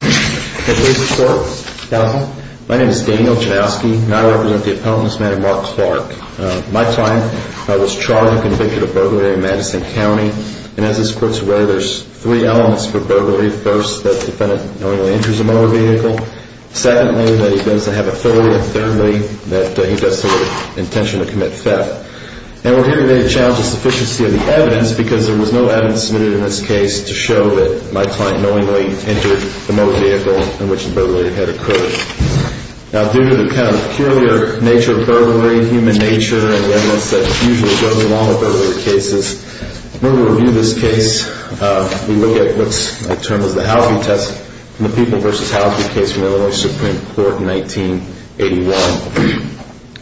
My name is Daniel Janowski, and I represent the appellant, Mrs. Mark Clark. My client was charged and convicted of burglary in Madison County. And as this court's aware, there's three elements for burglary. First, that the defendant knowingly enters a motor vehicle. Secondly, that he claims to have authority. And thirdly, that he does so with the intention to commit theft. And we're here today to challenge the sufficiency of the evidence because there was no evidence submitted in this case to show that my client knowingly entered the motor vehicle in which the burglary had occurred. Now, due to the kind of peculiar nature of burglary, human nature, and the evidence that usually goes along with burglary cases, when we review this case, we look at what's termed as the Halphy test from the People v. Halphy case from Illinois Supreme Court in 1981.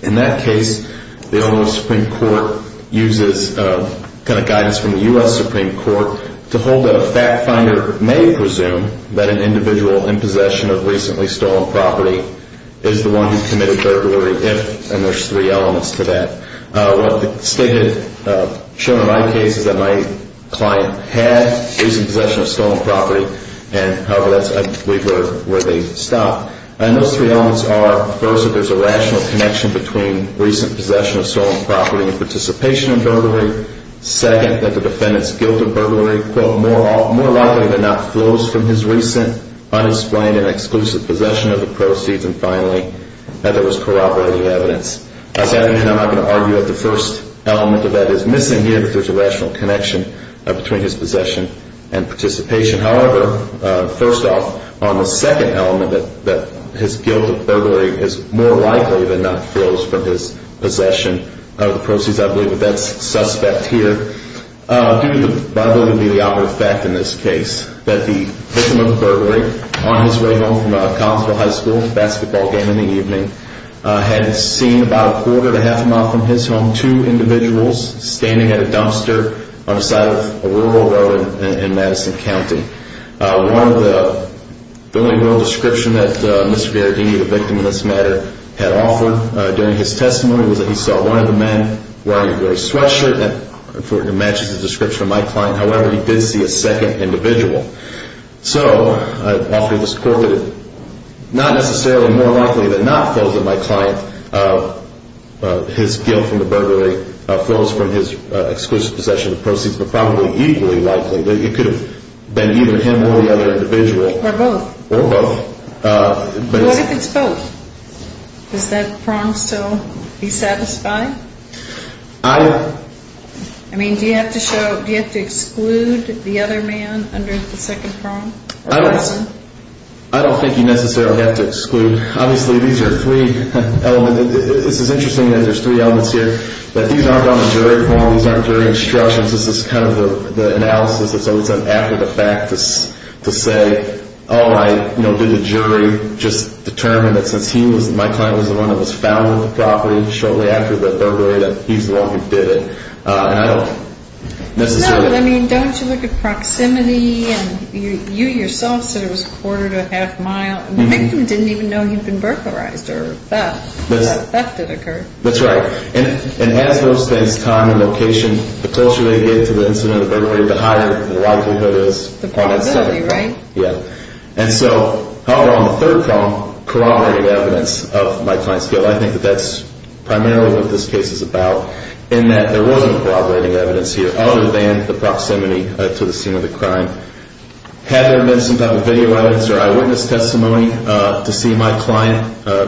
In that case, the Illinois Supreme Court uses kind of guidance from the U.S. Supreme Court to hold that a fact finder may presume that an individual in possession of recently stolen property is the one who committed burglary if, and there's three elements to that. What the state had shown in my case is that my client had recent possession of stolen property, and however, that's where they stop. And those three elements are, first, that there's a rational connection between recent possession of stolen property and participation in burglary. Second, that the defendant's guilt of burglary, quote, more likely than not flows from his recent, unexplained and exclusive possession of the proceeds. And finally, that there was corroborating evidence. I'm not going to argue that the first element of that is missing here, that there's a rational connection between his possession and participation. However, first off, on the second element, that his guilt of burglary is more likely than not flows from his possession of the proceeds, I believe that that's suspect here, due to what I believe to be the outward fact in this case, that the victim of the burglary, on his way home from Collinsville High School to a basketball game in the evening, had seen about a quarter to half a mile from his home two individuals standing at a dumpster on the side of a railroad road in Madison County. One of the only real descriptions that Mr. Berardini, the victim in this matter, had offered during his testimony was that he saw one of the men wearing a gray sweatshirt, and it matches the description of my client. However, he did see a second individual. So I offer this quote that it's not necessarily more likely than not flows from my client, his guilt from the burglary flows from his exclusive possession of the proceeds, but probably equally likely that it could have been either him or the other individual. Or both. Or both. What if it's both? Does that prong still be satisfied? I... I mean, do you have to show, do you have to exclude the other man under the second prong? I don't think you necessarily have to exclude. Obviously, these are three elements. It's interesting that there's three elements here. These aren't on the jury form. These aren't jury instructions. This is kind of the analysis that's always done after the fact to say, oh, I, you know, did the jury just determine that since he was, my client was the one that was found with the property shortly after the burglary, that he's the one who did it. And I don't necessarily... No, but I mean, don't you look at proximity? You yourself said it was a quarter to a half mile. The victim didn't even know he'd been burglarized or theft. Theft did occur. That's right. And as those things time and location, the closer they get to the incident of the burglary, the higher the likelihood is upon that statement. The probability, right? Yeah. And so, however, on the third prong, corroborating evidence of my client's guilt, I think that that's primarily what this case is about, in that there wasn't corroborating evidence here other than the proximity to the scene of the crime. Had there been some type of video evidence or eyewitness testimony to see my client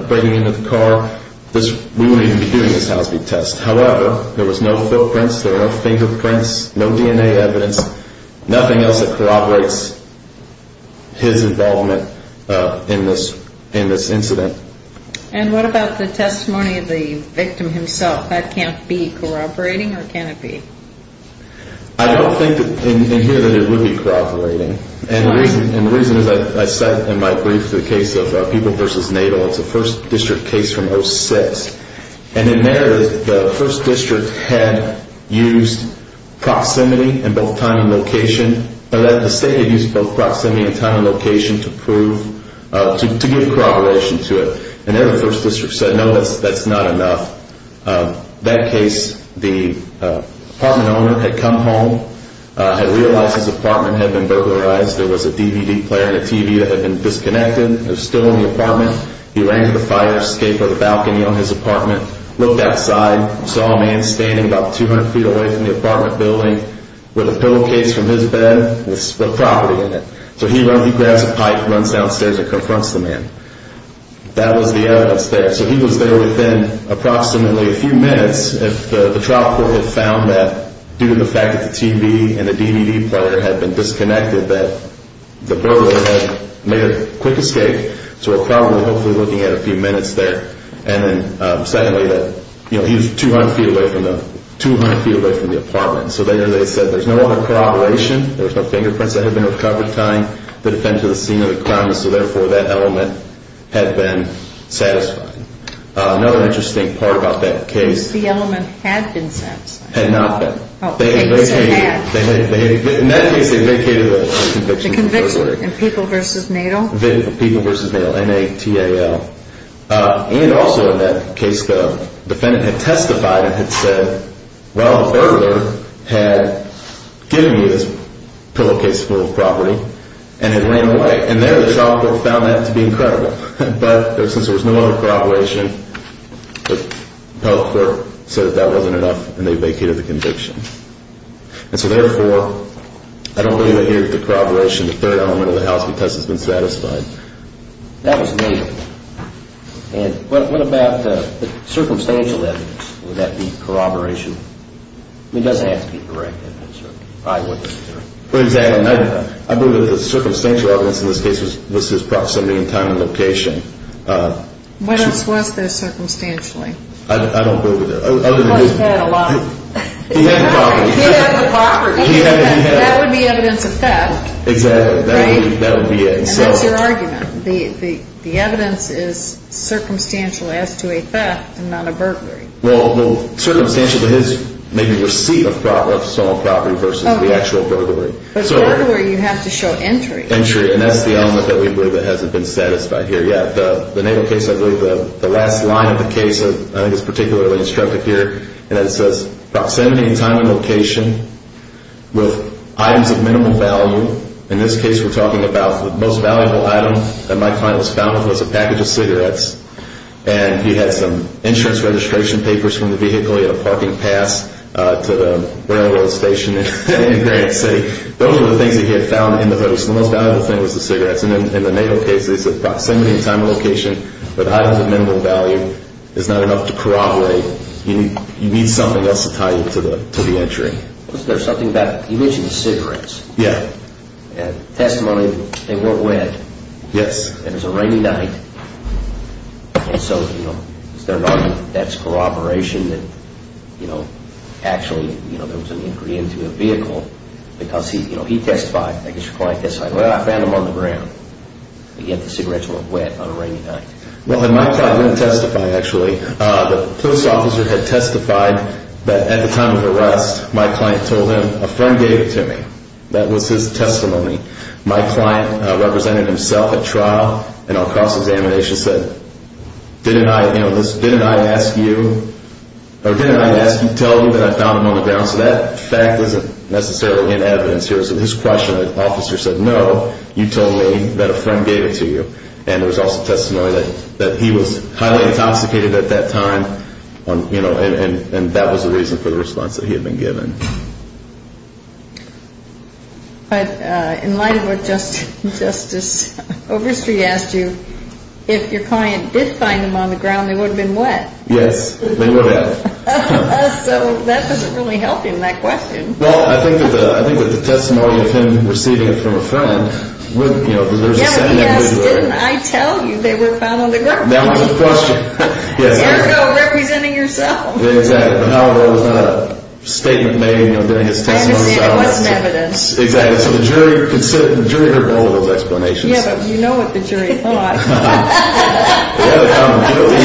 breaking into the car, we wouldn't even be doing this Housby test. However, there was no footprints, there were no fingerprints, no DNA evidence, nothing else that corroborates his involvement in this incident. And what about the testimony of the victim himself? That can't be corroborating or can it be? I don't think in here that it would be corroborating. And the reason is I said in my brief the case of People v. Naval. It's a first district case from 06. And in there, the first district had used proximity in both time and location. The state had used both proximity and time and location to prove, to give corroboration to it. And then the first district said, no, that's not enough. That case, the apartment owner had come home, had realized his apartment had been burglarized. There was a DVD player and a TV that had been disconnected. It was still in the apartment. He ran to the fire escape or the balcony on his apartment, looked outside, saw a man standing about 200 feet away from the apartment building with a pillowcase from his bed with property in it. So he runs, he grabs a pipe, runs downstairs and confronts the man. That was the evidence there. So he was there within approximately a few minutes if the trial court had found that due to the fact that the TV and the DVD player had been disconnected, that the burglar had made a quick escape. So we're probably hopefully looking at a few minutes there. And then secondly, that he was 200 feet away from the apartment. So there they said there's no other corroboration. There's no fingerprints that have been recovered tying the defendant to the scene of the crime. So therefore, that element had been satisfied. Another interesting part about that case. The element had been satisfied. Had not been. In that case, they vacated the conviction. The conviction in People v. Natal? People v. Natal, N-A-T-A-L. And also in that case, the defendant had testified and had said, well, the burglar had given me this pillowcase full of property and had ran away. And there the trial court found that to be incredible. But since there was no other corroboration, the trial court said that that wasn't enough and they vacated the conviction. And so therefore, I don't believe that here's the corroboration, the third element of the house, because it's been satisfied. That was Natal. And what about the circumstantial evidence? Would that be corroboration? I mean, it doesn't have to be correct evidence. It probably wouldn't be correct. Exactly. I believe that the circumstantial evidence in this case was his proximity in time and location. What else was there circumstantially? I don't believe it. He had the property. He had the property. That would be evidence of theft. Exactly. That would be it. And what's your argument? The evidence is circumstantial as to a theft and not a burglary. Well, circumstantial to his maybe receipt of stolen property versus the actual burglary. But burglary, you have to show entry. Entry. And that's the element that we believe that hasn't been satisfied here yet. The Natal case, I believe, the last line of the case I think is particularly instructive here. And it says proximity in time and location with items of minimal value. In this case, we're talking about the most valuable item that my client was found with was a package of cigarettes. And he had some insurance registration papers from the vehicle. He had a parking pass to the railroad station in Grant City. Those were the things that he had found in the house. The most valuable thing was the cigarettes. In the Natal case, they said proximity in time and location with items of minimal value is not enough to corroborate. You need something else to tie you to the entry. There's something about, you mentioned cigarettes. Yeah. And testimony, they weren't wet. Yes. And it was a rainy night. And so, you know, is there an argument that that's corroboration that, you know, actually, you know, there was an entry into the vehicle because he, you know, he testified. I guess your client testified, well, I found them on the ground. Yet the cigarettes were wet on a rainy night. Well, my client didn't testify, actually. The police officer had testified that at the time of the arrest, my client told him, a friend gave it to me. That was his testimony. My client represented himself at trial and on cross-examination said, didn't I, you know, didn't I ask you, or didn't I ask you, tell you that I found them on the ground? So that fact isn't necessarily in evidence here. So his question, the officer said, no, you told me that a friend gave it to you. And there was also testimony that he was highly intoxicated at that time, you know, and that was the reason for the response that he had been given. But in light of what Justice Overstreet asked you, if your client did find them on the ground, they would have been wet. Yes, they would have. So that doesn't really help in that question. Well, I think that the testimony of him receiving it from a friend would, you know, there's a sentiment there. Yeah, but he asked, didn't I tell you they were found on the ground? That was the question. There you go, representing yourself. Exactly. However, it was not a statement made, you know, during his testimony. It wasn't evidence. Exactly. So the jury heard all of those explanations. Yeah, but you know what the jury thought. Yeah, I'm guilty.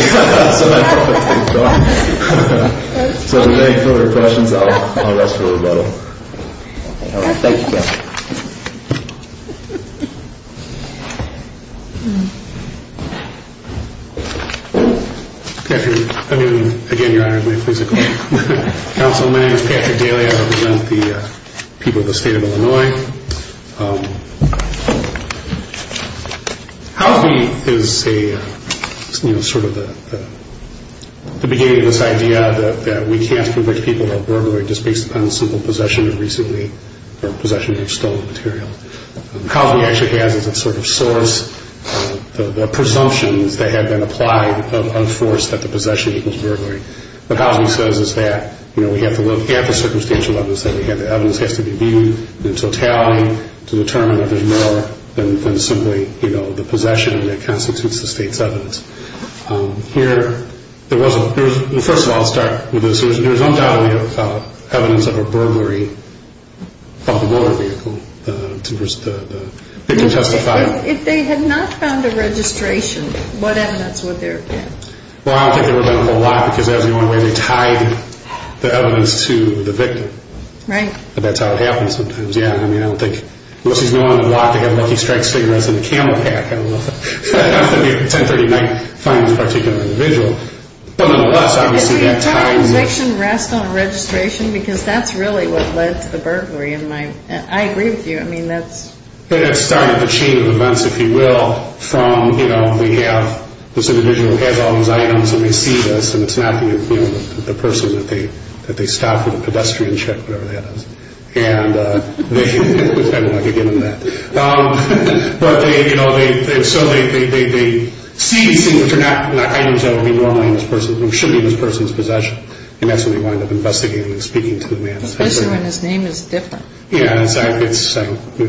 So that's what I think. So if there are any further questions, I'll ask for a rebuttal. Thank you, sir. Patrick, I mean, again, your Honor is my physical counsel. My name is Patrick Daly. Howie is a, you know, sort of the beginning of this idea that we can't convict people of burglary just based upon simple possession of recently or possession of stolen material. Howie actually has as a sort of source the presumptions that have been applied of force that the possession equals burglary. What Howie says is that, you know, we have to look at the circumstantial evidence that we have. The evidence has to be viewed in totality to determine if there's more than simply, you know, the possession that constitutes the state's evidence. Here, there wasn't. First of all, I'll start with this. There was undoubtedly evidence of a burglary of a motor vehicle. The victim testified. If they had not found a registration, what evidence would there have been? Well, I don't think there would have been a whole lot because that was the only way they tied the evidence to the victim. Right. That's how it happens sometimes. Yeah. I mean, I don't think, unless he's known a lot, they have lucky strikes figures in the camel pack. I don't know. 1039 finds a particular individual. Nonetheless, obviously, that time. Does the entire conviction rest on registration? Because that's really what led to the burglary in my, I agree with you. I mean, that's. It started the chain of events, if you will, from, you know, we have this individual who has all these items and they see this, and it's not the person that they stop for the pedestrian check, whatever that is. And they, you know, so they see these things that are not items that would be normally in this person's, or should be in this person's possession. And that's when they wind up investigating and speaking to the man. Especially when his name is different. Yeah, exactly. It was supposed to be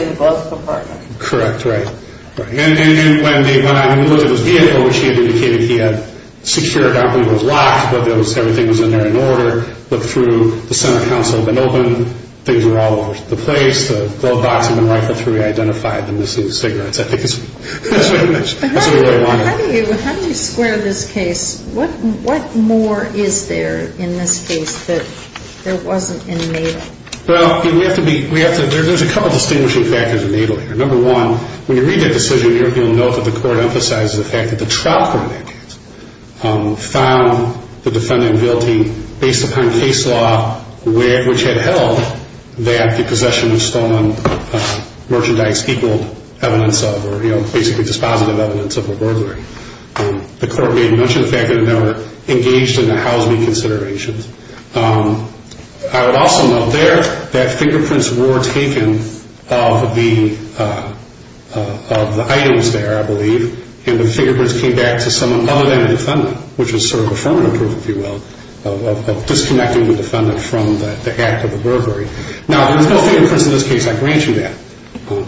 in the glove compartment. Correct. Right. And when they went out and looked at his vehicle, which he indicated he had secured, everything was locked, everything was in there in order, looked through, the center console had been opened, things were all over the place, the glove box had been rightfully identified, and this is cigarettes. I think that's what he mentioned. How do you square this case? What more is there in this case that there wasn't in Natal? Well, we have to be, there's a couple of distinguishing factors in Natal here. Number one, when you read that decision here, you'll note that the court emphasizes the fact that the trial court found the defendant guilty based upon case law which had held that the possession of stolen merchandise equaled evidence of, or, you know, basically dispositive evidence of a burglary. The court may have mentioned the fact that they were engaged in a house-meet consideration. I would also note there that fingerprints were taken of the items there, I believe, and the fingerprints came back to someone other than the defendant, which was sort of affirmative proof, if you will, of disconnecting the defendant from the act of the burglary. Now, there's no fingerprints in this case. I grant you that.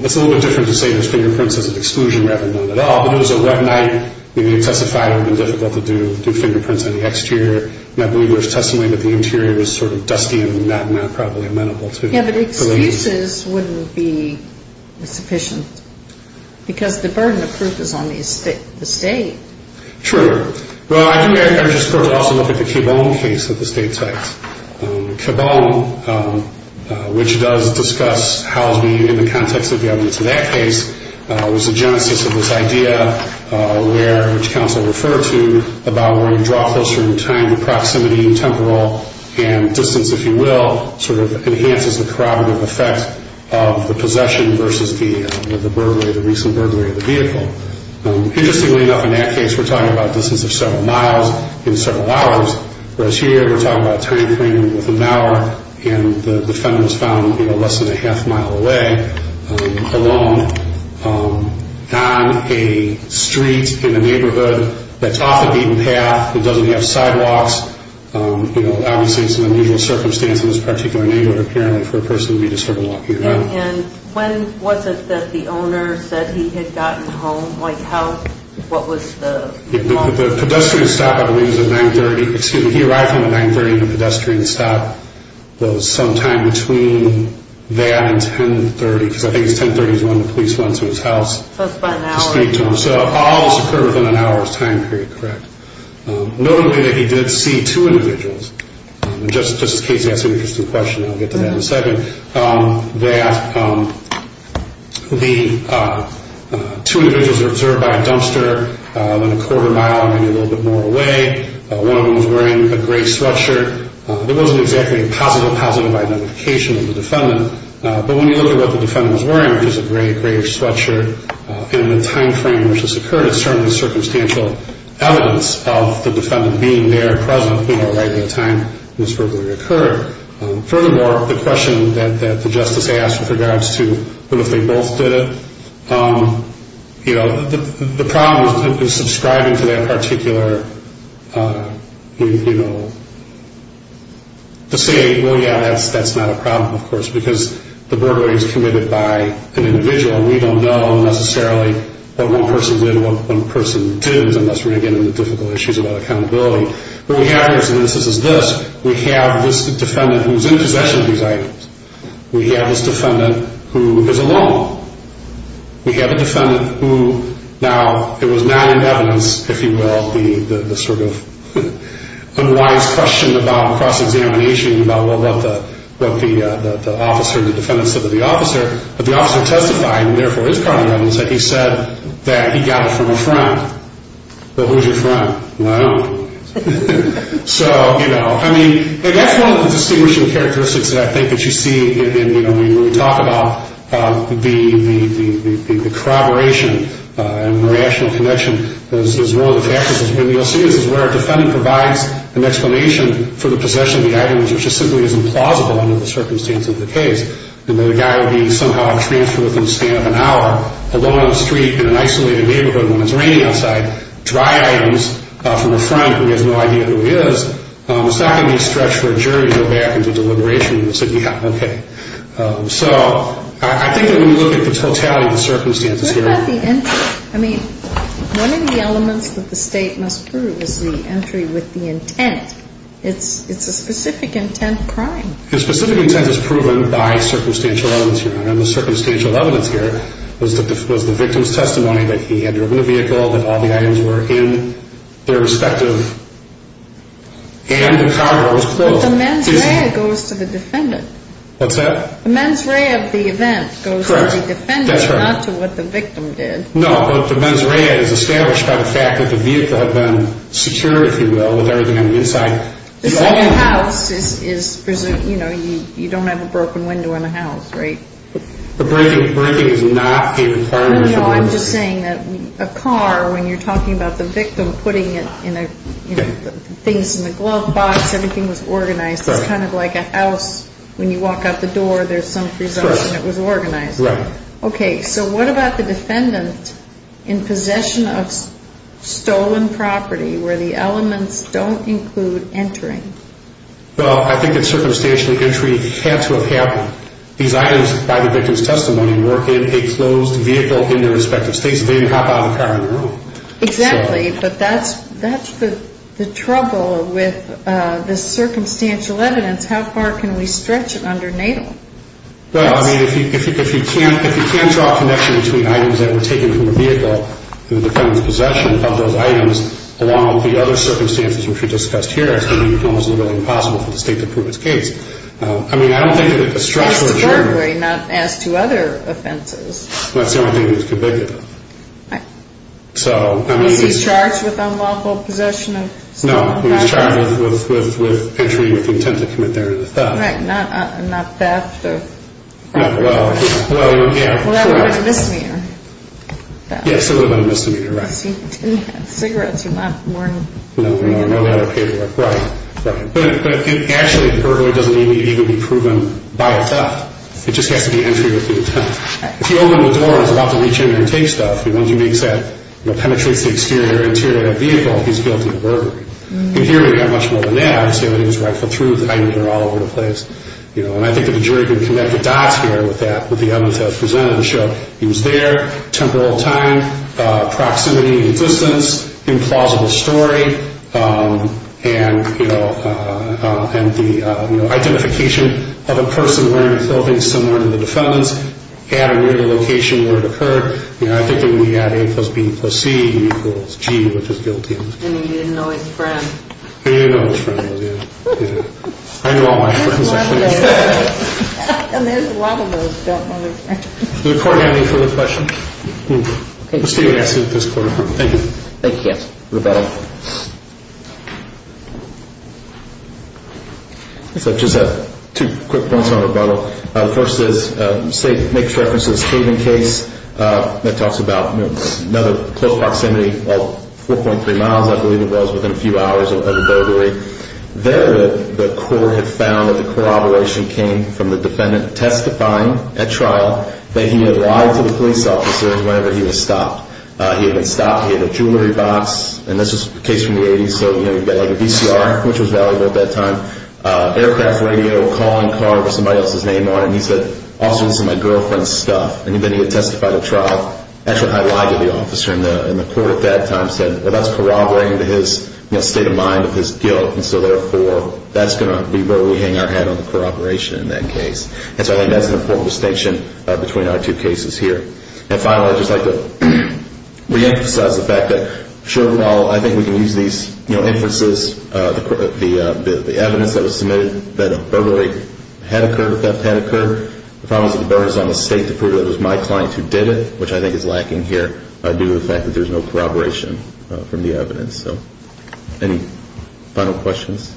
It's a little bit different to say there's fingerprints as an exclusion rather than none at all, but it was a wet night. Maybe a testifier would have been difficult to do fingerprints on the exterior, and I believe there's testimony that the interior was sort of dusty and not probably amenable to. Yeah, but excuses wouldn't be sufficient because the burden of proof is on the estate. True. Well, I think I just go to also look at the Cabone case of the state tax. Cabone, which does discuss house-meet in the context of the evidence of that case, was the genesis of this idea, which counsel referred to, about where you draw closer in time to proximity and temporal and distance, if you will, sort of enhances the corroborative effect of the possession versus the recent burglary of the vehicle. Interestingly enough, in that case, we're talking about distance of several miles in several hours, whereas here we're talking about time frame within an hour, and the defendant was found less than a half mile away alone on a street in a neighborhood that's off a beaten path. It doesn't have sidewalks. Obviously, it's an unusual circumstance in this particular neighborhood, apparently, for a person to be disturbed while walking around. And when was it that the owner said he had gotten home? Like, what was the moment? The pedestrian stop, I believe, was at 930. The pedestrian stop was sometime between that and 1030, because I think it was 1030 is when the police went to his house. So it was about an hour. So all this occurred within an hour's time period, correct? Notably, that he did see two individuals. Just in case you ask an interesting question, I'll get to that in a second, that the two individuals were observed by a dumpster, about a quarter mile, maybe a little bit more away. One of them was wearing a gray sweatshirt. There wasn't exactly a positive identification of the defendant, but when you look at what the defendant was wearing, which was a gray sweatshirt, in the time frame in which this occurred, it's certainly circumstantial evidence of the defendant being there, present, right at the time this verbally occurred. Furthermore, the question that the justice asked with regards to what if they both did it, the problem is subscribing to that particular, you know, to say, well, yeah, that's not a problem, of course, because the burglary is committed by an individual. We don't know necessarily what one person did and what one person didn't, unless we're getting into difficult issues about accountability. What we have here is this. We have this defendant who's in possession of these items. We have this defendant who is alone. We have a defendant who, now, it was not in evidence, if you will, the sort of unwise question about cross-examination, about what the officer, the defendant said to the officer, but the officer testified, and therefore it's currently in evidence, that he said that he got it from a friend. But who's your friend? Well, I don't know. So, you know, I mean, and that's one of the distinguishing characteristics, I think, that you see in, you know, when we talk about the corroboration and the rational connection is one of the factors, is where our defendant provides an explanation for the possession of the items which is simply implausible under the circumstances of the case, and that a guy would be somehow transferred within the span of an hour, alone on the street in an isolated neighborhood when it's raining outside, dry items from a friend who has no idea who he is. It's not going to be a stretch for a jury to go back into deliberation and say, yeah, okay. So I think that when you look at the totality of the circumstances here. What about the entry? I mean, one of the elements that the State must prove is the entry with the intent. It's a specific intent crime. The specific intent is proven by circumstantial evidence, Your Honor, and the circumstantial evidence here was the victim's testimony that he had driven a vehicle, that all the items were in their respective, and the car was closed. But the mens rea goes to the defendant. What's that? The mens rea of the event goes to the defendant. That's right. Not to what the victim did. No, but the mens rea is established by the fact that the vehicle had been secure, if you will, with everything on the inside. The whole house is, you know, you don't have a broken window in a house, right? Breaking is not a crime. No, no, I'm just saying that a car, when you're talking about the victim putting it in a, you know, things in the glove box, everything was organized. It's kind of like a house. When you walk out the door, there's some free zone, and it was organized. Right. Okay, so what about the defendant in possession of stolen property where the elements don't include entering? Well, I think that circumstantial entry had to have happened. These items, by the victim's testimony, were in a closed vehicle in their respective states. They didn't hop out of the car on their own. Exactly, but that's the trouble with the circumstantial evidence. How far can we stretch it under NATO? Well, I mean, if you can't draw a connection between items that were taken from the vehicle and the defendant's possession of those items, along with the other circumstances, which we discussed here, it's almost literally impossible for the state to prove its case. I mean, I don't think that the structure of Germany... As to burglary, not as to other offenses. Well, that's the only thing that was convicted of. Right. So, I mean, it's... Was he charged with unlawful possession of stolen property? No, he was charged with entry with intent to commit a theft. Right, not theft of property. Well, yeah. Well, that would have been a misdemeanor. Yes, it would have been a misdemeanor, right. Because he didn't have cigarettes or not wearing... No, no, no, the other paperwork, right, right. But actually, burglary doesn't even need to be proven by a theft. It just has to be entry with intent. If he opened the door and was about to reach in there and take stuff, and once he makes that, you know, penetrates the exterior or interior of the vehicle, he's guilty of burglary. And here we have much more than that. Obviously, when he was right foot through, the items are all over the place. You know, and I think that the jury can connect the dots here with that, with the evidence that was presented in the show. He was there, temporal time, proximity and distance, implausible story, and the identification of a person wearing clothing similar to the defendant's at or near the location where it occurred. I think it would be at A plus B plus C equals G, which is guilty. And he didn't know his friend. He didn't know his friend, yeah. I knew all my friends, actually. And there's a lot of those who don't know their friends. Does the court have any further questions? Okay. We'll stay with this courtroom. Thank you. Thank you. Rebuttal. I guess I just have two quick points on rebuttal. The first is, say it makes reference to this Haven case that talks about, you know, another close proximity of 4.3 miles, I believe it was, within a few hours of the burglary. There the court had found that the corroboration came from the defendant testifying at trial that he had lied to the police officer whenever he was stopped. He had been stopped. He had a jewelry box. And this was a case from the 80s. So, you know, you've got like a VCR, which was valuable at that time, aircraft radio, a calling card with somebody else's name on it. And he said, Officer, this is my girlfriend's stuff. And then he had testified at trial. Actually, how he lied to the officer in the court at that time said, well, that's corroborating to his, you know, state of mind of his guilt. And so, therefore, that's going to be where we hang our hat on the corroboration in that case. And so I think that's an important distinction between our two cases here. And finally, I'd just like to reemphasize the fact that, sure, well, I think we can use these, you know, inferences, the evidence that was submitted that a burglary had occurred, a theft had occurred. The problem is that the burden is on the state to prove that it was my client who did it, which I think is lacking here due to the fact that there's no corroboration from the evidence. So any final questions?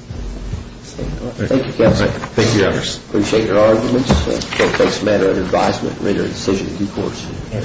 Thank you, counsel. Thank you, Your Honors. Appreciate your arguments. I think it's a matter of advisement to make a decision in due course.